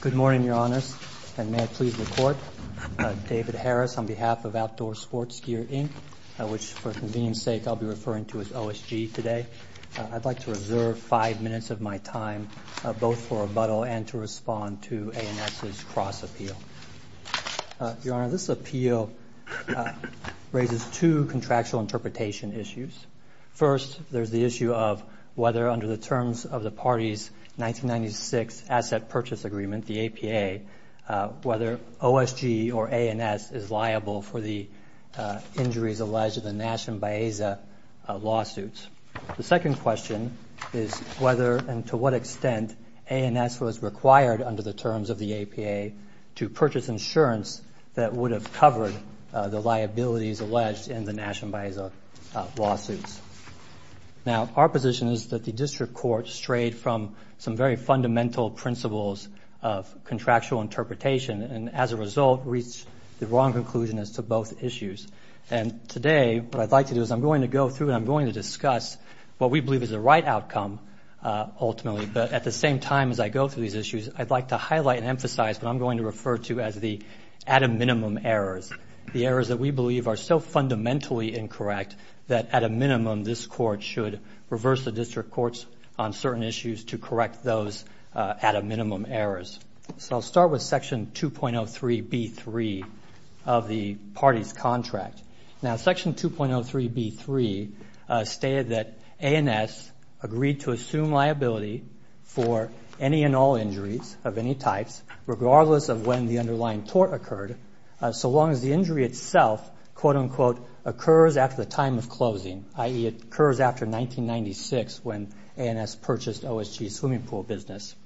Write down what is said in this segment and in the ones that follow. Good morning, Your Honors, and may I please report, David Harris on behalf of Outdoor Sports Gear, Inc., which for convenience sake I'll be referring to as OSG today. I'd like to reserve five minutes of my time both for rebuttal and to respond to ANS's cross-appeal. Your Honor, this appeal raises two contractual interpretation issues. First, there's the issue of whether under the terms of the party's 1996 Asset Purchase Agreement, the APA, whether OSG or ANS is liable for the injuries alleged in the Nash & Baeza lawsuits. The second question is whether and to what extent ANS was required under the terms of the APA to purchase insurance that would have covered the liabilities alleged in the Nash & Baeza lawsuits. Now, our position is that the District Court strayed from some very fundamental principles of contractual interpretation and as a result reached the wrong conclusion as to both issues. And today what I'd like to do is I'm going to go through and I'm going to discuss what we believe is the right outcome ultimately, but at the same time as I go through these issues, I'd like to highlight and emphasize what I'm going to refer to as the at a minimum errors. The errors that we believe are so fundamentally incorrect that at a minimum this Court should reverse the District Courts on certain issues to correct those at a minimum errors. So I'll with Section 2.03b3 of the parties contract. Now Section 2.03b3 stated that ANS agreed to assume liability for any and all injuries of any types regardless of when the underlying tort occurred so long as the injury itself quote unquote occurs after the time of closing, i.e. it occurs after 1996 when ANS purchased OSG's swimming pool business.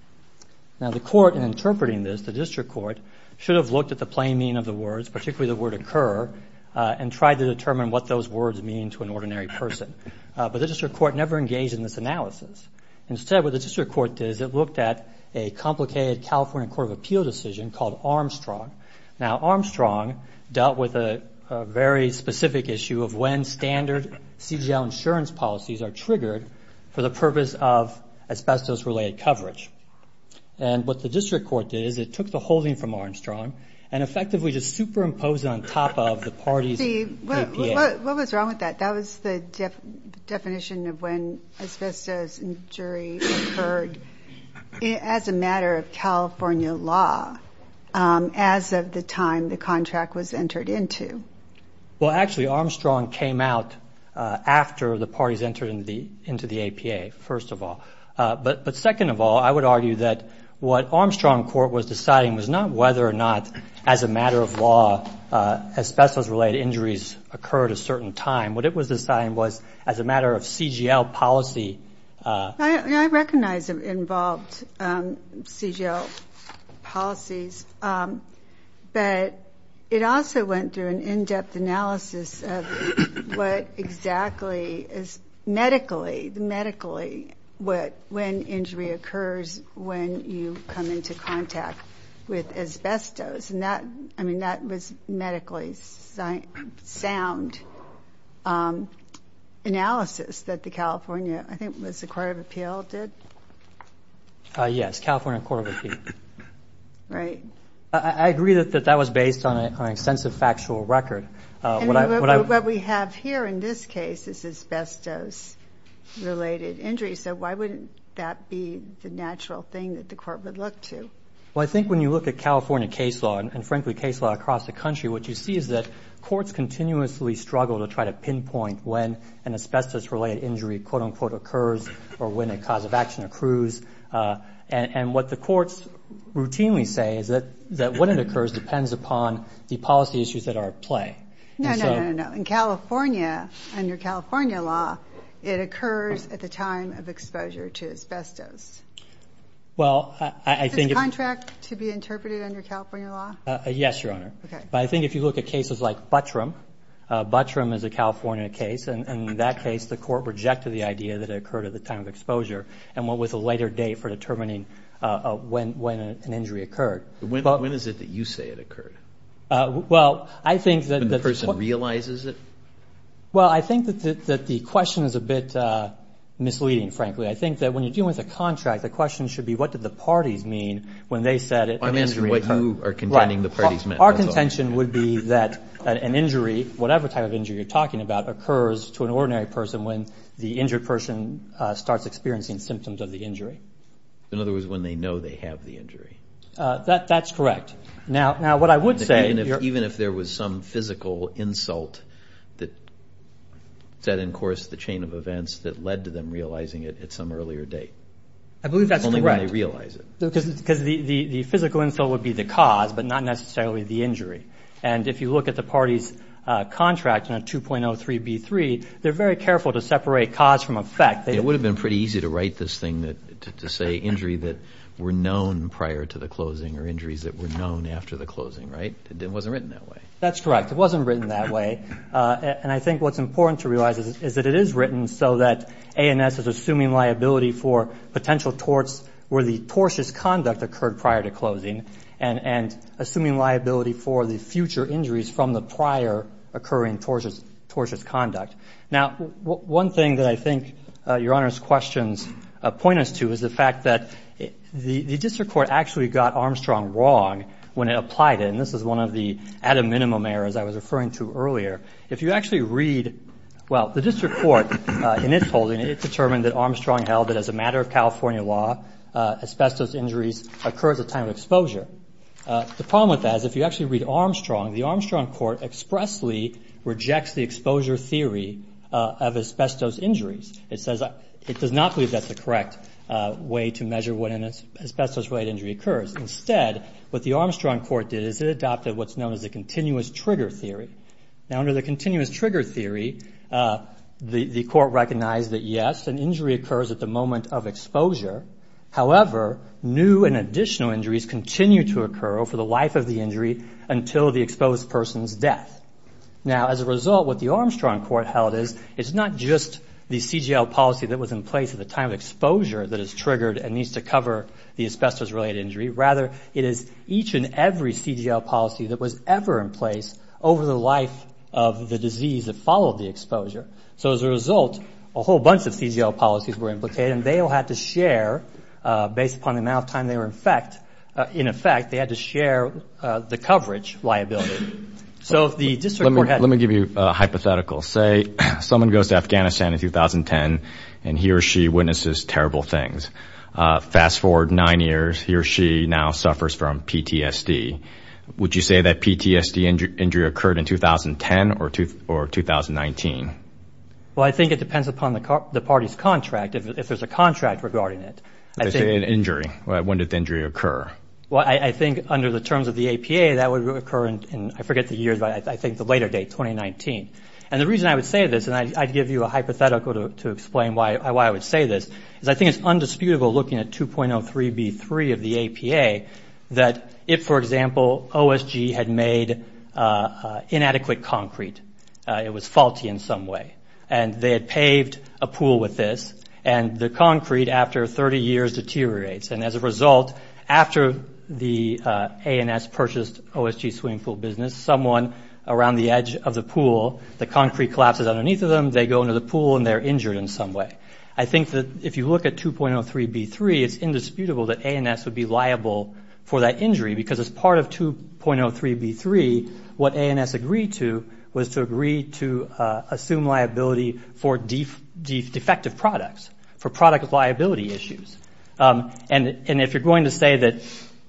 Now the Court in interpreting this, the District Court, should have looked at the plain meaning of the words, particularly the word occur, and tried to determine what those words mean to an ordinary person. But the District Court never engaged in this analysis. Instead what the District Court did is it looked at a complicated California Court of Appeal decision called Armstrong. Now Armstrong dealt with a very specific issue of when standard CGL insurance policies are triggered for the purpose of asbestos-related coverage. And what the District Court did is it took the holding from Armstrong and effectively just superimposed it on top of the parties APA. See, what was wrong with that? That was the definition of when asbestos injury occurred as a matter of California law as of the time the contract was entered into. Well actually Armstrong came out after the parties entered into the APA, first of all. But second of all, I would argue that what Armstrong Court was deciding was not whether or not as a matter of law asbestos-related injuries occurred at a certain time. What it was deciding was as a matter of CGL policy. I recognize it involved CGL policies, but it also went through an in-depth analysis of what exactly is medically, medically when injury occurs when you come into contact with an asbestos-related injury. Was the Court of Appeal did? Yes, California Court of Appeal. Right. I agree that that was based on an extensive factual record. What we have here in this case is asbestos-related injuries, so why wouldn't that be the natural thing that the Court would look to? Well I think when you look at California case law, and frankly case law across the country, what you see is that courts continuously struggle to try to pinpoint when an asbestos-related injury quote-unquote occurs or when a cause of action accrues. And what the courts routinely say is that when it occurs depends upon the policy issues that are at play. No, no, no. In California, under California law, it occurs at the time of exposure to asbestos. Well, I think... Is this contract to be interpreted under California law? Yes, Your Honor. Okay. But I think if you look at cases like Buttram, Buttram is a California case, and in that case the Court rejected the idea that it occurred at the time of exposure and went with a later date for determining when an injury occurred. When is it that you say it occurred? Well, I think that... When the person realizes it? Well, I think that the question is a bit misleading, frankly. I think that when you're dealing with a contract, the question should be what did the parties mean when they said an injury occurred? I'm asking what you are contending the parties meant. Right. Our contention would be that an injury, whatever type of injury you're talking about, occurs to an ordinary person when the injured person starts experiencing symptoms of the injury. In other words, when they know they have the injury. That's correct. Now, what I would say... Even if there was some physical insult that set in course the chain of events that led to them realizing it at some earlier date. I believe that's correct. It's only when they realize it. Because the physical insult would be the cause, but not necessarily the injury. And if you look at the parties' contract in a 2.03b3, they're very careful to separate cause from effect. It would have been pretty easy to write this thing to say injury that were known prior to the closing or injuries that were known after the closing, right? It wasn't written that way. That's correct. It wasn't written that way. And I think what's important to realize is that it is written so that ANS is assuming liability for potential torts where the tortuous conduct occurred prior to closing and assuming liability for the future injuries from the prior occurring tortious conduct. Now, one thing that I think Your Honor's questions point us to is the fact that the district court actually got Armstrong wrong when it applied it. And this is one of the at a minimum errors I was referring to earlier. If you actually read... Well, the district court in its holding, it determined that Armstrong held it as a matter of California law, asbestos injuries occur at the time of exposure. The problem with that is if you actually read Armstrong, the Armstrong court expressly rejects the exposure theory of asbestos injuries. It says it does not believe that's the correct way to measure when an asbestos-related injury occurs. Instead, what the Armstrong court did is it adopted what's known as a continuous trigger theory. Now, under the continuous trigger theory, the court recognized that, yes, an injury occurs at the moment of exposure. However, new and additional injuries continue to occur over the life of the injury until the exposed person's death. Now, as a result, what the Armstrong court held is it's not just the CGL policy that was in place at the time of exposure that is triggered and needs to cover the asbestos-related injury. Rather, it is each and every CGL policy that was ever in place over the life of the disease that followed the exposure. So, as a result, a whole bunch of CGL policies were implicated, and they all had to share based upon the amount of time they were in effect. In effect, they had to share the coverage liability. Let me give you a hypothetical. Say someone goes to Afghanistan in 2010, and he or she witnesses terrible things. Fast forward nine years. He or she now suffers from PTSD. Would you say that PTSD injury occurred in 2010 or 2019? Well, I think it depends upon the party's contract, if there's a contract regarding it. If it's an injury, when did the injury occur? Well, I think under the terms of the APA, that would occur in, I forget the year, but I think the later date, 2019. And the reason I would say this, and I'd give you a hypothetical to explain why I would say this, is I think it's undisputable, looking at 2.03b3 of the APA, that if, for example, OSG had made inadequate concrete, it was faulty in some way, and they had paved a pool with this, and the concrete, after 30 years, deteriorates. And as a result, after the ANS purchased OSG's swimming pool business, someone around the edge of the pool, the concrete collapses underneath of them, they go into the pool, and they're injured in some way. I think that if you look at 2.03b3, it's indisputable that ANS would be liable for that injury, because as part of 2.03b3, what ANS agreed to was to agree to assume liability for defective products, for product liability issues. And if you're going to say that,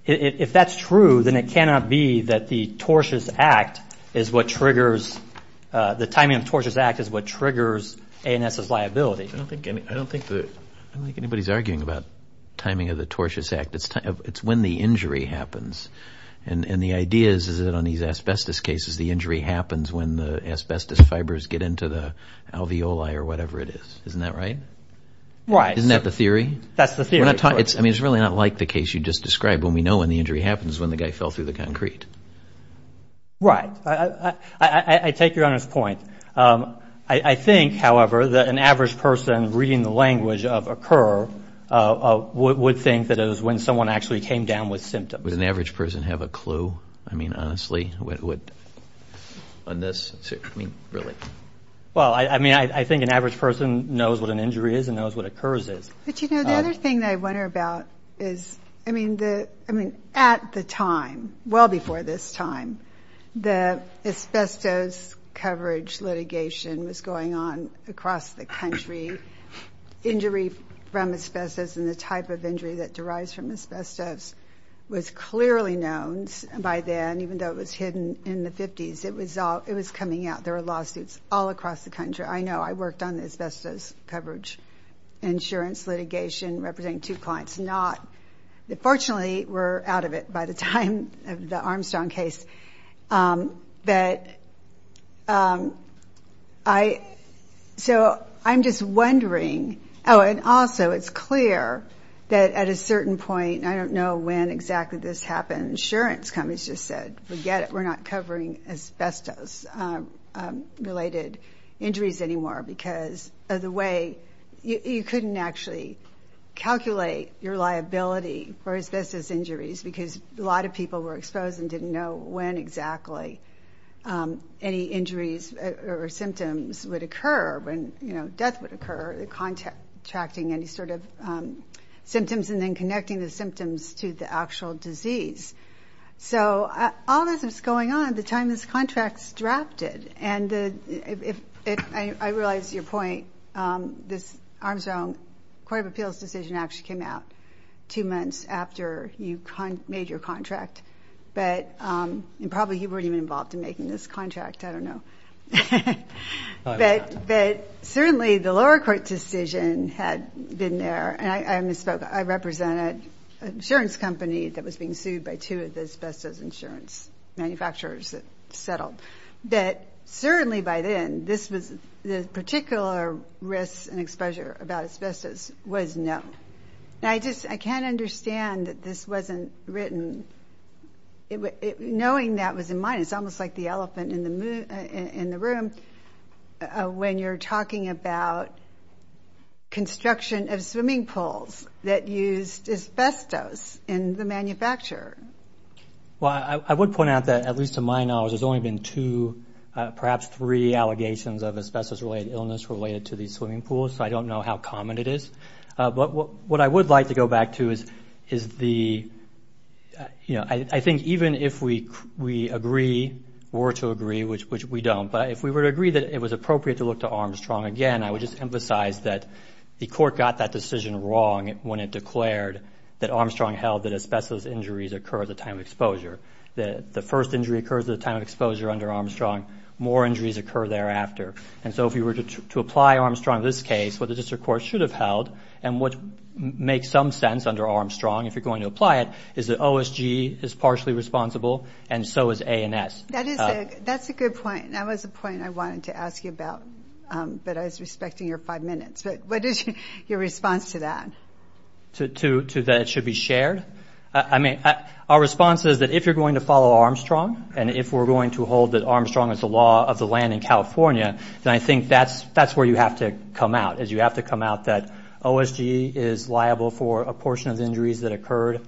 if that's true, then it cannot be that the tortuous act is what triggers, the timing of the tortuous act is what triggers ANS's liability. I don't think anybody's arguing about timing of the tortuous act. It's when the injury happens. And the idea is that on these asbestos cases, the injury happens when the asbestos fibers get into the alveoli or whatever it is. Isn't that right? Right. Isn't that the theory? That's the theory. I mean, it's really not like the case you just described when we know when the injury happens, when the guy fell through the concrete. Right. I take Your Honor's point. I think, however, that an average person reading the language of OCCUR would think that it was when someone actually came down with symptoms. Would an average person have a clue? I mean, honestly, on this? I mean, really? Well, I mean, I think an average person knows what an injury is and knows what OCCURS is. But, you know, the other thing that I wonder about is, I mean, at the time, well before this time, the asbestos coverage litigation was going on across the country. Injury from asbestos and the type of injury that derives from asbestos was clearly known by then, even though it was hidden in the 50s. It was coming out. There were lawsuits all across the country. I know. I worked on the asbestos coverage insurance litigation representing two clients. Fortunately, we're out of it by the time of the Armstrong case. So, I'm just wondering. Oh, and also, it's clear that at a certain point, I don't know when exactly this happened, insurance companies just said, forget it, we're not covering asbestos-related injuries anymore because of the way you couldn't actually calculate your liability for asbestos injuries because a lot of people were exposed and didn't know when exactly any injuries or symptoms would occur, when, you know, death would occur, contracting any sort of symptoms and then connecting the symptoms to the actual disease. So, all this was going on at the time this contract was drafted. And I realize your point. This Armstrong Court of Appeals decision actually came out two months after you made your contract. But probably you weren't even involved in making this contract. I don't know. But certainly, the lower court decision had been there. And I misspoke. I represented an insurance company that was being sued by two of the asbestos insurance manufacturers that settled, that certainly by then, this was the particular risk and exposure about asbestos was no. Now, I just can't understand that this wasn't written. Knowing that was in mind, it's almost like the elephant in the room when you're talking about construction of swimming pools that used asbestos in the manufacturer. Well, I would point out that, at least to my knowledge, there's only been two, perhaps three allegations of asbestos-related illness related to these swimming pools. So, I don't know how common it is. But what I would like to go back to is the, you know, I think even if we agree, were to agree, which we don't, but if we were to agree that it was appropriate to look to Armstrong again, I would just emphasize that the court got that decision wrong when it declared that Armstrong held that injury occur at the time of exposure. The first injury occurs at the time of exposure under Armstrong. More injuries occur thereafter. And so, if we were to apply Armstrong in this case, what the district court should have held, and what makes some sense under Armstrong, if you're going to apply it, is that OSG is partially responsible, and so is ANS. That's a good point. That was a point I wanted to ask you about, but I was respecting your five minutes. What is your response to that? To that it should be shared? I mean, our response is that if you're going to follow Armstrong, and if we're going to hold that Armstrong is the law of the land in California, then I think that's where you have to come out, is you have to come out that OSG is liable for a portion of injuries that occurred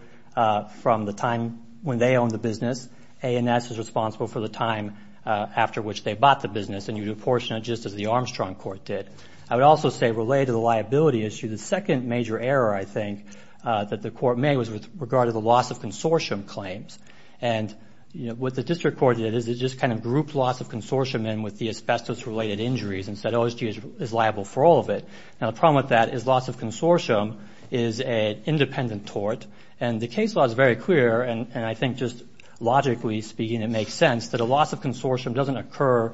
from the time when they owned the business. ANS is responsible for the time after which they bought the business, and you would apportion it just as the Armstrong court did. I would also say, related to the liability issue, the second major error, I think, that the court made was with regard to the loss of consortium claims, and what the district court did is it just kind of grouped loss of consortium in with the asbestos-related injuries and said OSG is liable for all of it. Now, the problem with that is loss of consortium is an independent tort, and the case law is very clear, and I think just logically speaking it makes sense, that a loss of consortium doesn't occur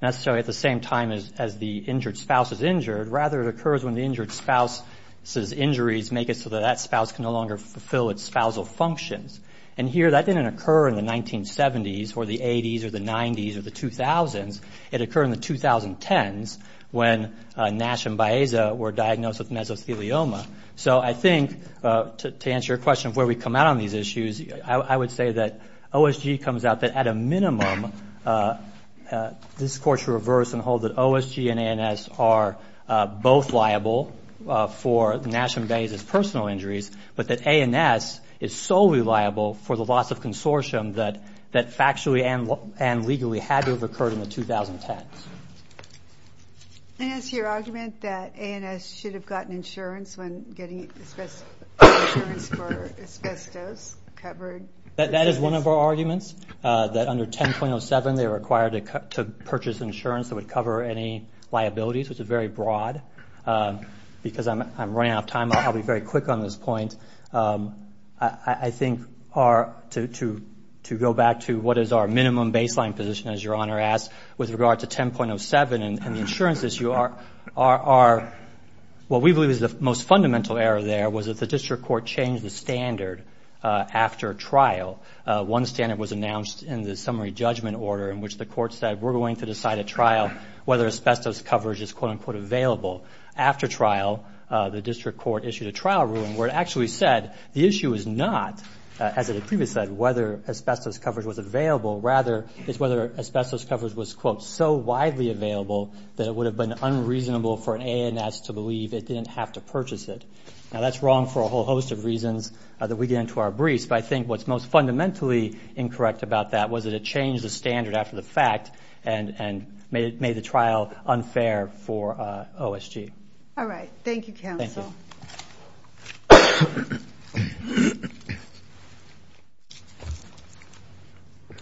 necessarily at the same time as the injured spouse is injured. Rather, it occurs when the injured spouse's injuries make it so that that spouse can no longer fulfill its spousal functions. And here, that didn't occur in the 1970s or the 80s or the 90s or the 2000s. It occurred in the 2010s when Nash and Baeza were diagnosed with mesothelioma. So I think, to answer your question of where we come out on these issues, I would say that OSG comes out that at a minimum this court should reverse and hold that OSG and ANS are both liable for Nash and Baeza's personal injuries, but that ANS is solely liable for the loss of consortium that factually and legally had to have occurred in the 2010s. And is your argument that ANS should have gotten insurance for asbestos covered? That is one of our arguments, that under 10.07 they were required to purchase insurance that would cover any liabilities, which is very broad. Because I'm running out of time, I'll be very quick on this point. I think to go back to what is our minimum baseline position, as Your Honor asked, with regard to 10.07 and the insurances, what we believe is the most fundamental error there was that the district court changed the standard after trial. One standard was announced in the summary judgment order in which the court said, we're going to decide at trial whether asbestos coverage is, quote-unquote, available. After trial, the district court issued a trial ruling where it actually said the issue is not, as it had previously said, whether asbestos coverage was available, rather it's whether asbestos coverage was, quote, so widely available that it would have been unreasonable for an ANS to believe it didn't have to purchase it. Now, that's wrong for a whole host of reasons that we get into our briefs, but I think what's most fundamentally incorrect about that was that it changed the standard after the fact and made the trial unfair for OSG. All right. Thank you, Counsel. Thank you. Good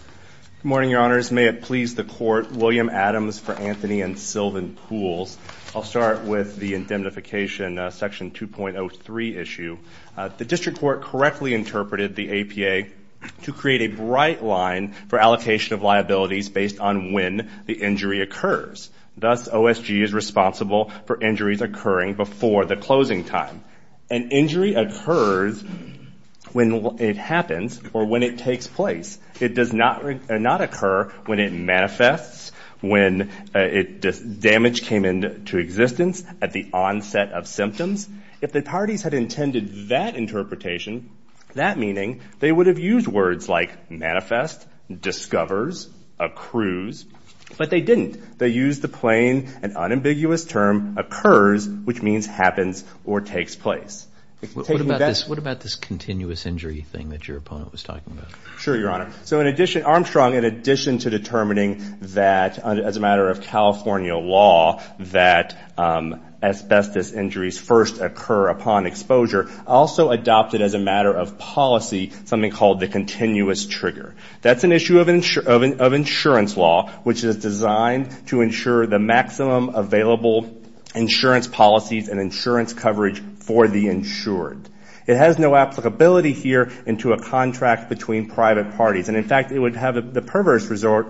morning, Your Honors. May it please the Court, William Adams for Anthony and Sylvan Pools. I'll start with the indemnification, Section 2.03 issue. The district court correctly interpreted the APA to create a bright line for allocation of liabilities based on when the injury occurs. Thus, OSG is responsible for injuries occurring before the closing time. An injury occurs when it happens or when it takes place. It does not occur when it manifests, when damage came into existence at the onset of symptoms. If the parties had intended that interpretation, that meaning, they would have used words like manifest, discovers, accrues, but they didn't. They used the plain and unambiguous term occurs, which means happens or takes place. What about this continuous injury thing that your opponent was talking about? Sure, Your Honor. Armstrong, in addition to determining that as a matter of California law that asbestos injuries first occur upon exposure, also adopted as a matter of policy something called the continuous trigger. That's an issue of insurance law, which is designed to ensure the maximum available insurance policies and insurance coverage for the insured. It has no applicability here into a contract between private parties. And, in fact, it would have the perverse result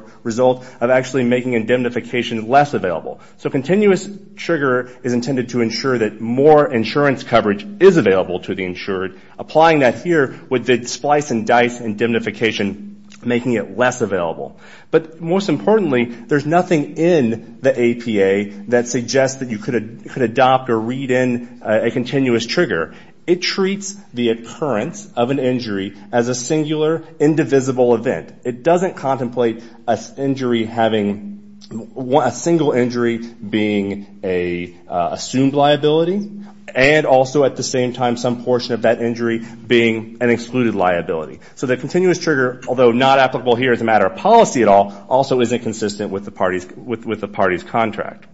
of actually making indemnification less available. So continuous trigger is intended to ensure that more insurance coverage is available to the insured. Applying that here would splice and dice indemnification, making it less available. But most importantly, there's nothing in the APA that suggests that you could adopt or read in a continuous trigger. It treats the occurrence of an injury as a singular, indivisible event. It doesn't contemplate a single injury being an assumed liability and also at the same time some portion of that injury being an excluded liability. So the continuous trigger, although not applicable here as a matter of policy at all, also isn't consistent with the party's contract.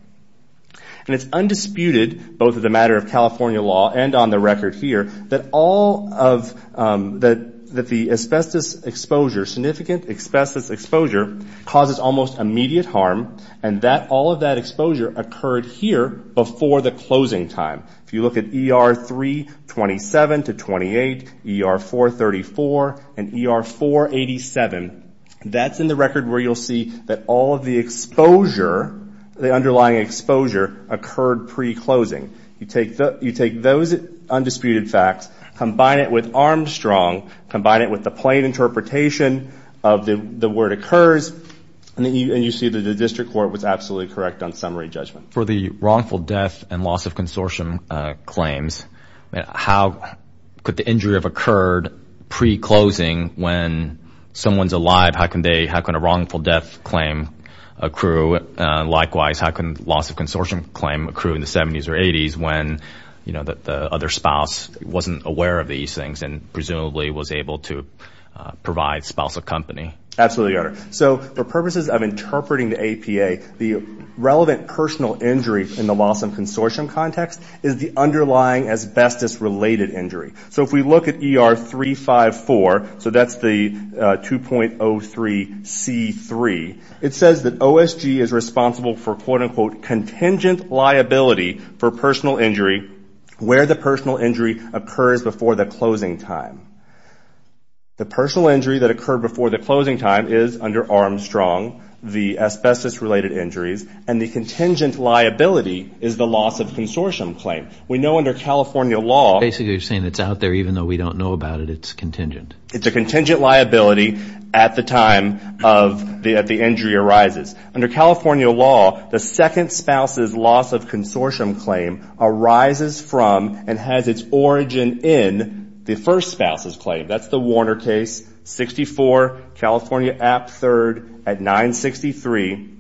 And it's undisputed, both as a matter of California law and on the record here, that all of the asbestos exposure, significant asbestos exposure, causes almost immediate harm and that all of that exposure occurred here before the closing time. If you look at ER 327 to 28, ER 434 and ER 487, that's in the record where you'll see that all of the exposure, the underlying exposure, occurred pre-closing. You take those undisputed facts, combine it with Armstrong, combine it with the plain interpretation of the word occurs, and you see that the district court was absolutely correct on summary judgment. For the wrongful death and loss of consortium claims, how could the injury have occurred pre-closing when someone's alive? How can a wrongful death claim accrue? Likewise, how can loss of consortium claim accrue in the 70s or 80s when the other spouse wasn't aware of these things and presumably was able to provide spousal company? Absolutely, Your Honor. So for purposes of interpreting the APA, the relevant personal injury in the loss of consortium context is the underlying asbestos-related injury. So if we look at ER 354, so that's the 2.03C3, it says that OSG is responsible for, quote-unquote, contingent liability for personal injury where the personal injury occurs before the closing time. The personal injury that occurred before the closing time is under Armstrong, the asbestos-related injuries, and the contingent liability is the loss of consortium claim. We know under California law... Basically you're saying it's out there even though we don't know about it, it's contingent. It's a contingent liability at the time of the injury arises. Under California law, the second spouse's loss of consortium claim arises from and has its origin in the first spouse's claim. That's the Warner case, 64, California App 3rd at 963.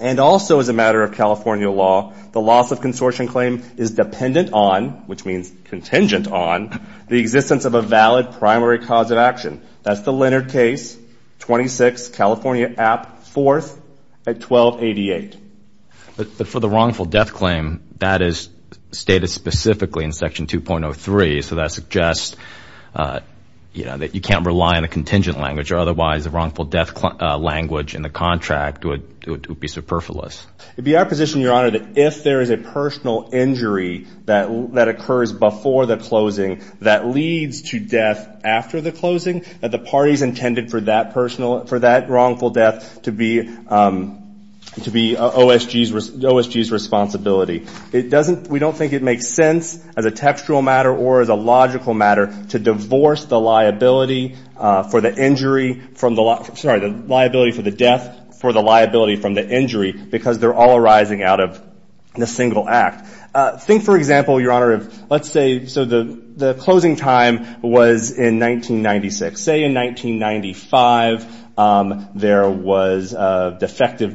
And also as a matter of California law, the loss of consortium claim is dependent on, which means contingent on, the existence of a valid primary cause of action. That's the Leonard case, 26, California App 4th at 1288. But for the wrongful death claim, that is stated specifically in Section 2.03, so that suggests that you can't rely on the contingent language or otherwise the wrongful death language in the contract would be superfluous. It would be our position, Your Honor, that if there is a personal injury that occurs before the closing that leads to death after the closing, that the parties intended for that wrongful death to be OSG's responsibility. We don't think it makes sense as a textual matter or as a logical matter to divorce the liability for the death for the liability from the injury because they're all arising out of the single act. Think, for example, Your Honor, let's say the closing time was in 1996. Say in 1995 there was a defective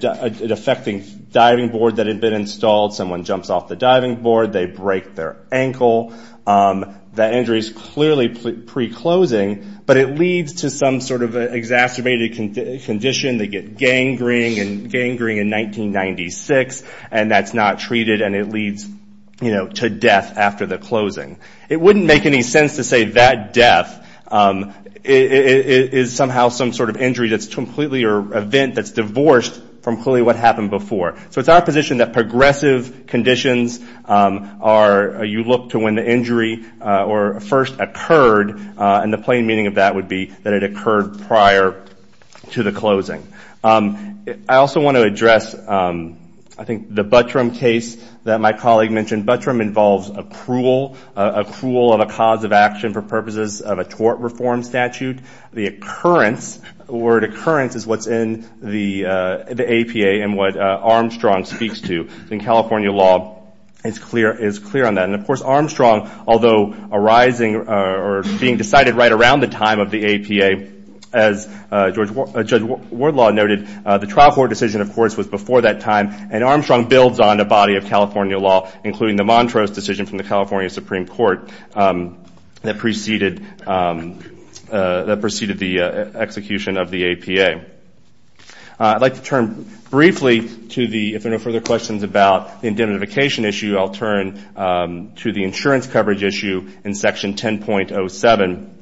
diving board that had been installed. Someone jumps off the diving board. They break their ankle. That injury is clearly pre-closing, but it leads to some sort of exacerbated condition. They get gangrene in 1996 and that's not treated and it leads to death after the closing. It wouldn't make any sense to say that death is somehow some sort of injury that's completely or event that's divorced from clearly what happened before. So it's our position that progressive conditions are you look to when the injury first occurred and the plain meaning of that would be that it occurred prior to the closing. I also want to address, I think, the Buttram case that my colleague mentioned. Buttram involves accrual of a cause of action for purposes of a tort reform statute. The word occurrence is what's in the APA and what Armstrong speaks to in California law. It's clear on that. And, of course, Armstrong, although arising or being decided right around the time of the APA, as Judge Wardlaw noted, the trial court decision, of course, was before that time, and Armstrong builds on the body of California law, including the Montrose decision from the California Supreme Court that preceded the execution of the APA. I'd like to turn briefly to the, if there are no further questions about the indemnification issue, I'll turn to the insurance coverage issue in Section 10.07.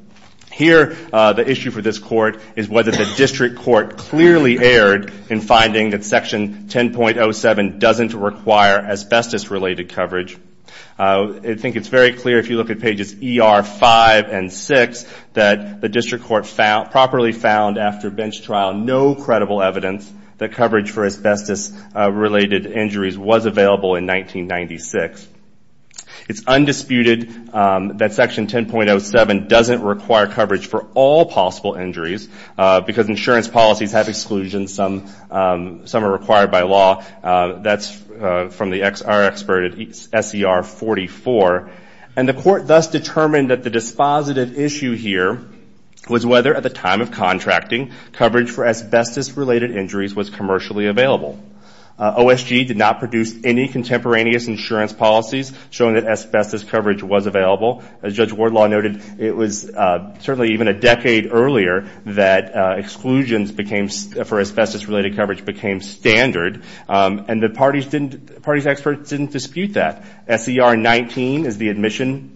Here the issue for this court is whether the district court clearly erred in finding that Section 10.07 doesn't require asbestos-related coverage. I think it's very clear if you look at pages ER 5 and 6 that the district court properly found after bench trial no credible evidence that coverage for asbestos-related injuries was available in 1996. It's undisputed that Section 10.07 doesn't require coverage for all possible injuries because insurance policies have exclusions. Some are required by law. That's from our expert at SER 44. And the court thus determined that the dispositive issue here was whether, at the time of contracting, coverage for asbestos-related injuries was commercially available. OSG did not produce any contemporaneous insurance policies showing that asbestos coverage was available. As Judge Wardlaw noted, it was certainly even a decade earlier that exclusions for asbestos-related coverage became standard. And the party's experts didn't dispute that. SER 19 is the admission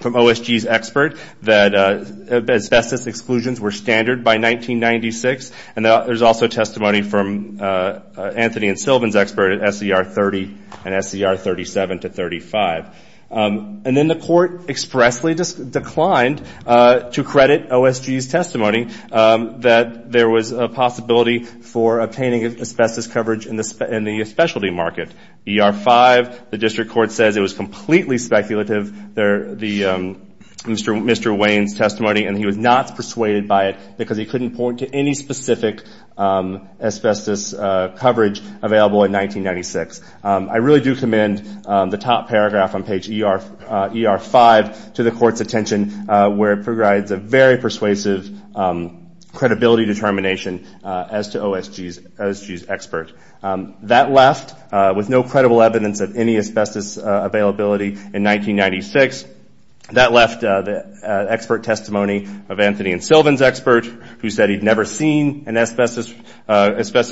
from OSG's expert that asbestos exclusions were standard by 1996. And there's also testimony from Anthony and Sylvan's expert at SER 30 and SER 37 to 35. And then the court expressly declined to credit OSG's testimony that there was a possibility for obtaining asbestos coverage in the specialty market. ER 5, the district court says it was completely speculative, Mr. Wayne's testimony, and he was not persuaded by it because he couldn't point to any specific asbestos coverage available in 1996. I really do commend the top paragraph on page ER 5 to the court's attention, where it provides a very persuasive credibility determination as to OSG's expert. That left, with no credible evidence of any asbestos availability in 1996, that left the expert testimony of Anthony and Sylvan's expert, who said he'd never seen an asbestos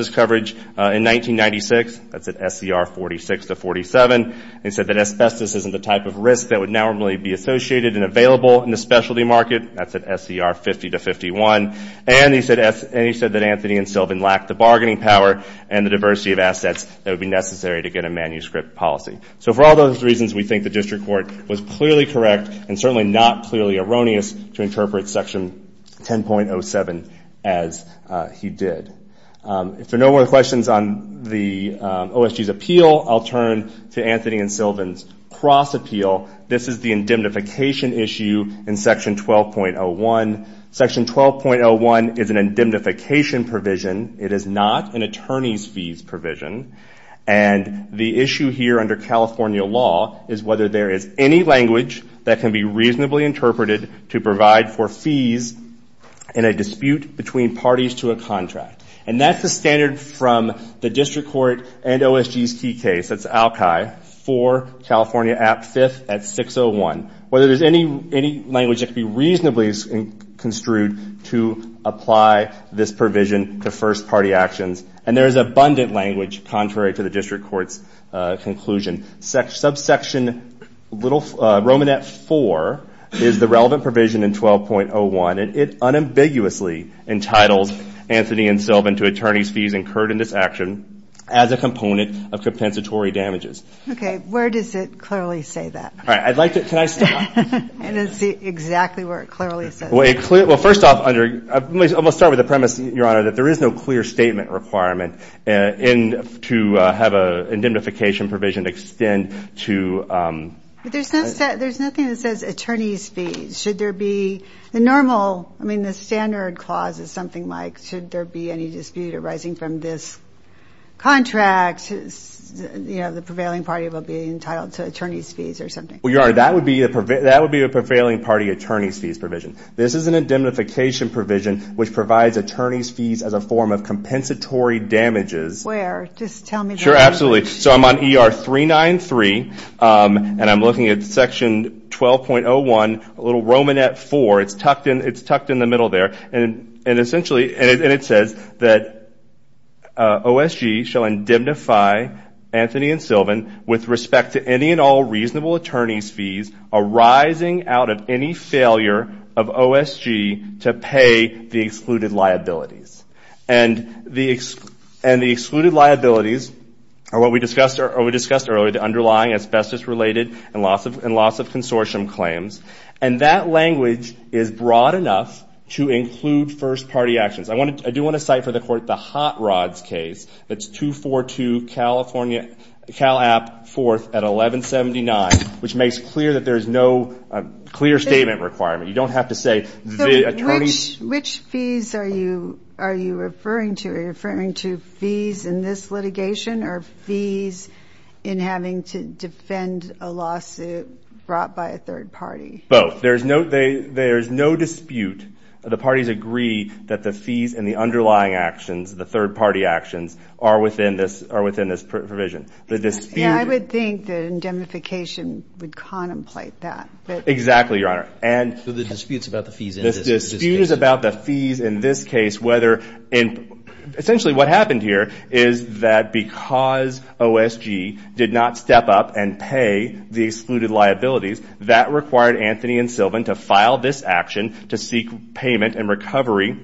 coverage in 1996. That's at SER 46 to 47. He said that asbestos isn't the type of risk that would normally be associated and available in the specialty market. That's at SER 50 to 51. And he said that Anthony and Sylvan lacked the bargaining power and the diversity of assets that would be necessary to get a manuscript policy. So for all those reasons, we think the district court was clearly correct and certainly not clearly erroneous to interpret Section 10.07 as he did. If there are no more questions on the OSG's appeal, I'll turn to Anthony and Sylvan's cross appeal. This is the indemnification issue in Section 12.01. Section 12.01 is an indemnification provision. It is not an attorney's fees provision. And the issue here under California law is whether there is any language that can be reasonably interpreted to provide for fees in a dispute between parties to a contract. And that's the standard from the district court and OSG's key case, that's ALCAI, for California Act 5th at 601, whether there's any language that can be reasonably construed to apply this provision to first-party actions. And there is abundant language contrary to the district court's conclusion. Subsection Romanet 4 is the relevant provision in 12.01, and it unambiguously entitles Anthony and Sylvan to attorney's fees incurred in this action as a component of compensatory damages. Okay, where does it clearly say that? All right, I'd like to – can I stop? And it's exactly where it clearly says that. Well, first off, under – I'm going to start with the premise, Your Honor, that there is no clear statement requirement to have an indemnification provision extend to – But there's nothing that says attorney's fees. Should there be the normal – I mean, the standard clause is something like, should there be any dispute arising from this contract, you know, the prevailing party will be entitled to attorney's fees or something. Well, Your Honor, that would be a prevailing party attorney's fees provision. This is an indemnification provision which provides attorney's fees as a form of compensatory damages. Where? Just tell me where. Sure, absolutely. So I'm on ER 393, and I'm looking at Section 12.01, a little Romanet 4. It's tucked in the middle there, and essentially – OSG shall indemnify Anthony and Sylvan with respect to any and all reasonable attorney's fees arising out of any failure of OSG to pay the excluded liabilities. And the excluded liabilities are what we discussed earlier, the underlying asbestos-related and loss-of-consortium claims. And that language is broad enough to include first-party actions. I do want to cite for the Court the Hot Rods case. That's 242 Cal App 4th at 1179, which makes clear that there is no clear statement requirement. You don't have to say the attorney's – So which fees are you referring to? Are you referring to fees in this litigation or fees in having to defend a lawsuit brought by a third party? Both. There is no dispute. The parties agree that the fees and the underlying actions, the third-party actions, are within this provision. The dispute – I would think that indemnification would contemplate that. Exactly, Your Honor. So the dispute is about the fees in this case. The dispute is about the fees in this case, whether – essentially what happened here is that because OSG did not step up and pay the excluded liabilities, that required Anthony and Sylvan to file this action to seek payment and recovery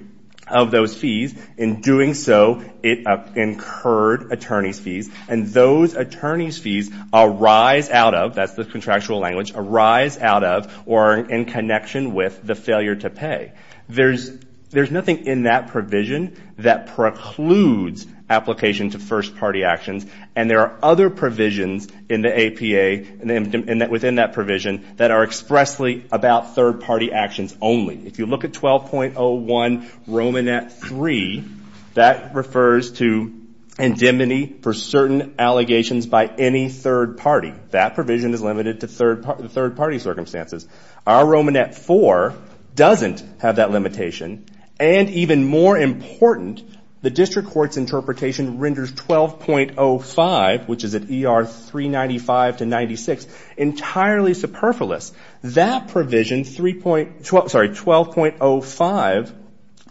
of those fees. In doing so, it incurred attorney's fees. And those attorney's fees arise out of – that's the contractual language – arise out of or are in connection with the failure to pay. There's nothing in that provision that precludes application to first-party actions. And there are other provisions in the APA within that provision that are expressly about third-party actions only. If you look at 12.01 Romanet III, that refers to indemnity for certain allegations by any third party. That provision is limited to third-party circumstances. Our Romanet IV doesn't have that limitation. And even more important, the district court's interpretation renders 12.05, which is at ER 395 to 96, entirely superfluous. That provision, 12.05,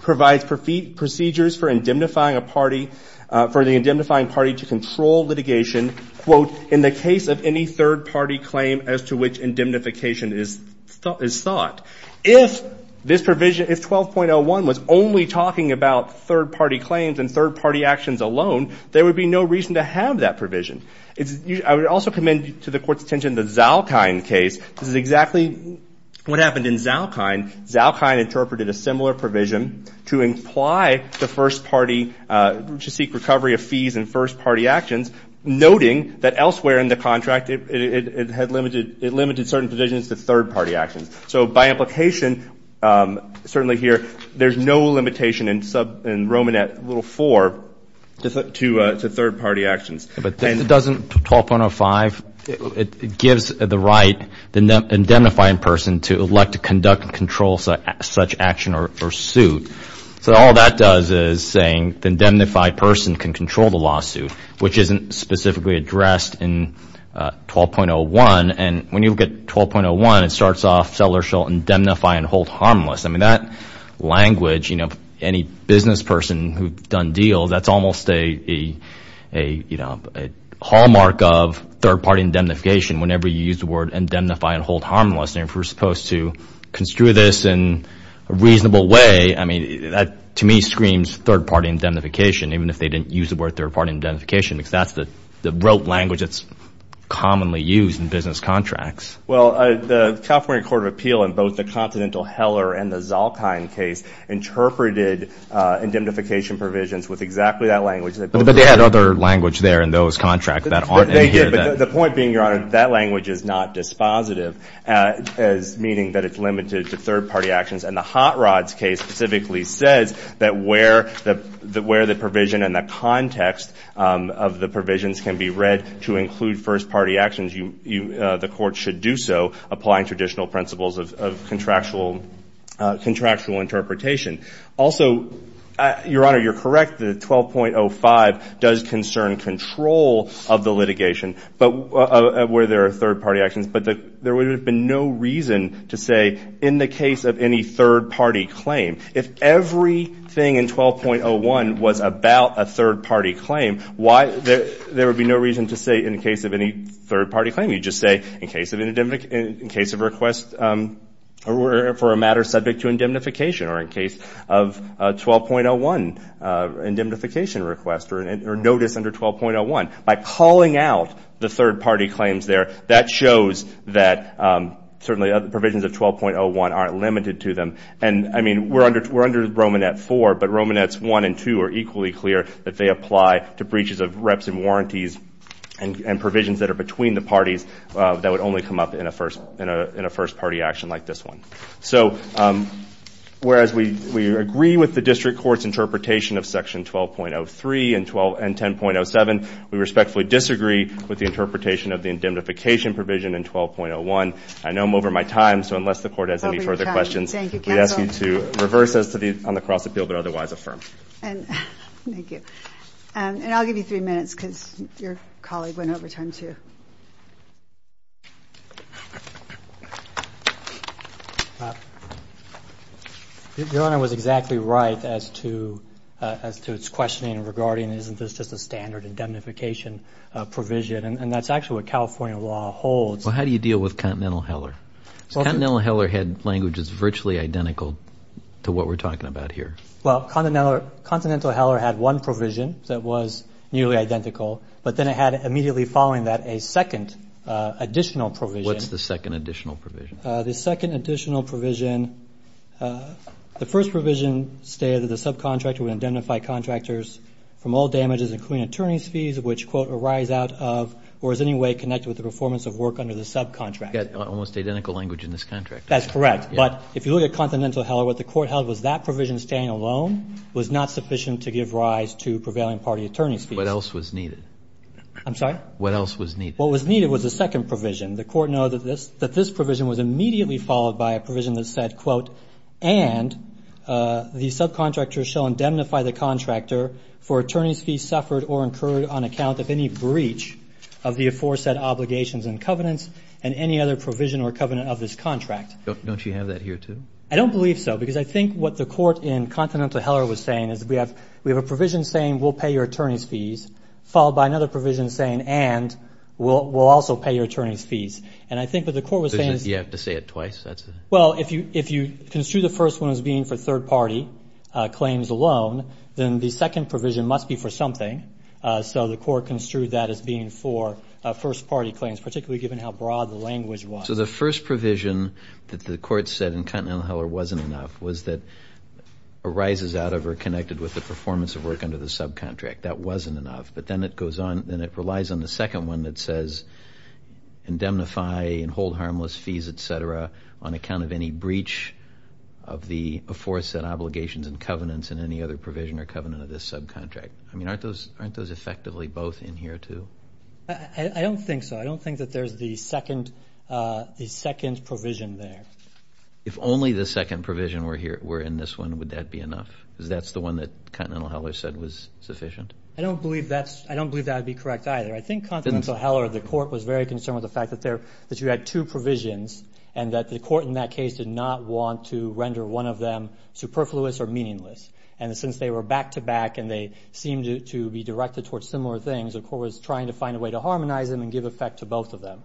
provides procedures for indemnifying a party – for the indemnifying party to control litigation, quote, in the case of any third-party claim as to which indemnification is sought. If this provision – if 12.01 was only talking about third-party claims and third-party actions alone, there would be no reason to have that provision. I would also commend to the court's attention the Zalkind case. This is exactly what happened in Zalkind. Zalkind interpreted a similar provision to imply the first party should seek recovery of fees in first-party actions, noting that elsewhere in the contract it had limited – it limited certain provisions to third-party actions. So by implication, certainly here, there's no limitation in Romanet IV to third-party actions. But doesn't 12.05 – it gives the right, the indemnifying person, to elect to conduct and control such action or suit. So all that does is saying the indemnified person can control the lawsuit, which isn't specifically addressed in 12.01. And when you look at 12.01, it starts off, seller shall indemnify and hold harmless. I mean, that language, you know, any business person who's done deals, that's almost a hallmark of third-party indemnification whenever you use the word indemnify and hold harmless. And if we're supposed to construe this in a reasonable way, I mean, that to me screams third-party indemnification, even if they didn't use the word third-party indemnification, because that's the rote language that's commonly used in business contracts. Well, the California Court of Appeal in both the Continental Heller and the Zalkind case interpreted indemnification provisions with exactly that language. But they had other language there in those contracts that aren't in here. They did, but the point being, Your Honor, that language is not dispositive, meaning that it's limited to third-party actions. And the Hot Rods case specifically says that where the provision and the context of the provisions can be read to include first-party actions, the court should do so, applying traditional principles of contractual interpretation. Also, Your Honor, you're correct that 12.05 does concern control of the litigation where there are third-party actions. But there would have been no reason to say in the case of any third-party claim, if everything in 12.01 was about a third-party claim, why there would be no reason to say in the case of any third-party claim. You'd just say in case of request for a matter subject to indemnification or in case of 12.01 indemnification request or notice under 12.01. By calling out the third-party claims there, that shows that certainly provisions of 12.01 aren't limited to them. And, I mean, we're under Romanet 4, but Romanets 1 and 2 are equally clear that they apply to breaches of reps and warranties and provisions that are between the parties that would only come up in a first-party action like this one. So, whereas we agree with the district court's interpretation of section 12.03 and 10.07, we respectfully disagree with the interpretation of the indemnification provision in 12.01. I know I'm over my time, so unless the court has any further questions, we ask you to reverse us on the cross-appeal but otherwise affirm. Thank you. And I'll give you three minutes because your colleague went over time, too. Your Honor was exactly right as to its questioning regarding isn't this just a standard indemnification provision and that's actually what California law holds. Well, how do you deal with Continental Heller? Continental Heller had languages virtually identical to what we're talking about here. Well, Continental Heller had one provision that was nearly identical, but then it had immediately following that a second additional provision. What's the second additional provision? The second additional provision, the first provision stated that the subcontractor would identify contractors from all damages including attorney's fees, which, quote, arise out of or is in any way connected with the performance of work under the subcontractor. You've got almost identical language in this contract. That's correct. But if you look at Continental Heller, what the court held was that provision staying alone was not sufficient to give rise to prevailing party attorney's fees. What else was needed? I'm sorry? What else was needed? What was needed was the second provision. The court noted that this provision was immediately followed by a provision that said, quote, and the subcontractor shall indemnify the contractor for attorney's fees suffered or incurred on account of any breach of the aforesaid obligations and covenants and any other provision or covenant of this contract. Don't you have that here, too? I don't believe so because I think what the court in Continental Heller was saying is we have a provision saying we'll pay your attorney's fees followed by another provision saying and we'll also pay your attorney's fees. And I think what the court was saying is you have to say it twice. Well, if you construe the first one as being for third party claims alone, then the second provision must be for something. So the court construed that as being for first party claims, particularly given how broad the language was. So the first provision that the court said in Continental Heller wasn't enough was that arises out of or connected with the performance of work under the subcontract. That wasn't enough. But then it relies on the second one that says indemnify and hold harmless fees, et cetera, on account of any breach of the aforesaid obligations and covenants and any other provision or covenant of this subcontract. I mean, aren't those effectively both in here, too? I don't think so. I don't think that there's the second provision there. If only the second provision were in this one, would that be enough? Because that's the one that Continental Heller said was sufficient. I don't believe that would be correct either. I think Continental Heller, the court, was very concerned with the fact that you had two provisions and that the court in that case did not want to render one of them superfluous or meaningless. And since they were back-to-back and they seemed to be directed towards similar things, the court was trying to find a way to harmonize them and give effect to both of them.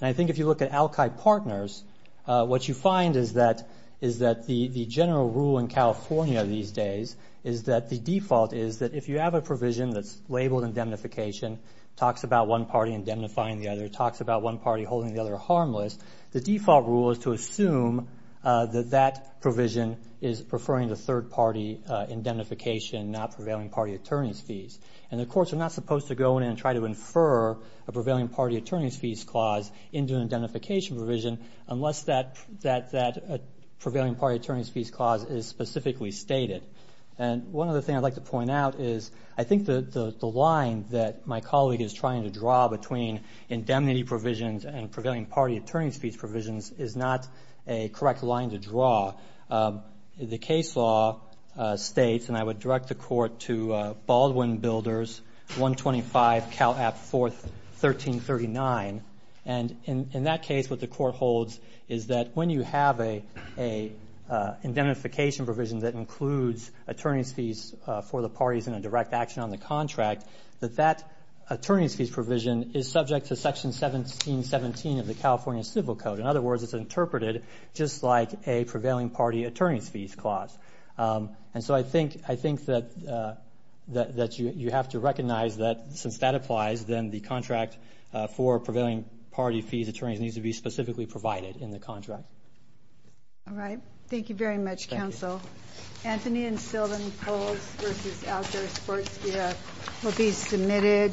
And I think if you look at al-Qaeda partners, what you find is that the general rule in California these days is that the default is that if you have a provision that's labeled indemnification, talks about one party indemnifying the other, talks about one party holding the other harmless, the default rule is to assume that that provision is preferring the third party indemnification, not prevailing party attorney's fees. And the courts are not supposed to go in and try to infer a prevailing party attorney's fees clause into an indemnification provision unless that prevailing party attorney's fees clause is specifically stated. And one other thing I'd like to point out is I think the line that my colleague is trying to draw between indemnity provisions and prevailing party attorney's fees provisions is not a correct line to draw. The case law states, and I would direct the court to Baldwin Builders 125 Cal App 41339, and in that case what the court holds is that when you have an indemnification provision that includes attorney's fees for the parties in a direct action on the contract, that that attorney's fees provision is subject to Section 1717 of the California Civil Code. In other words, it's interpreted just like a prevailing party attorney's fees clause. And so I think that you have to recognize that since that applies, then the contract for prevailing party fees attorneys needs to be specifically provided in the contract. All right. Thank you very much, Counsel. Thank you. Anthony and Sylvan Polz v. Outdoor Sports Gear will be submitted.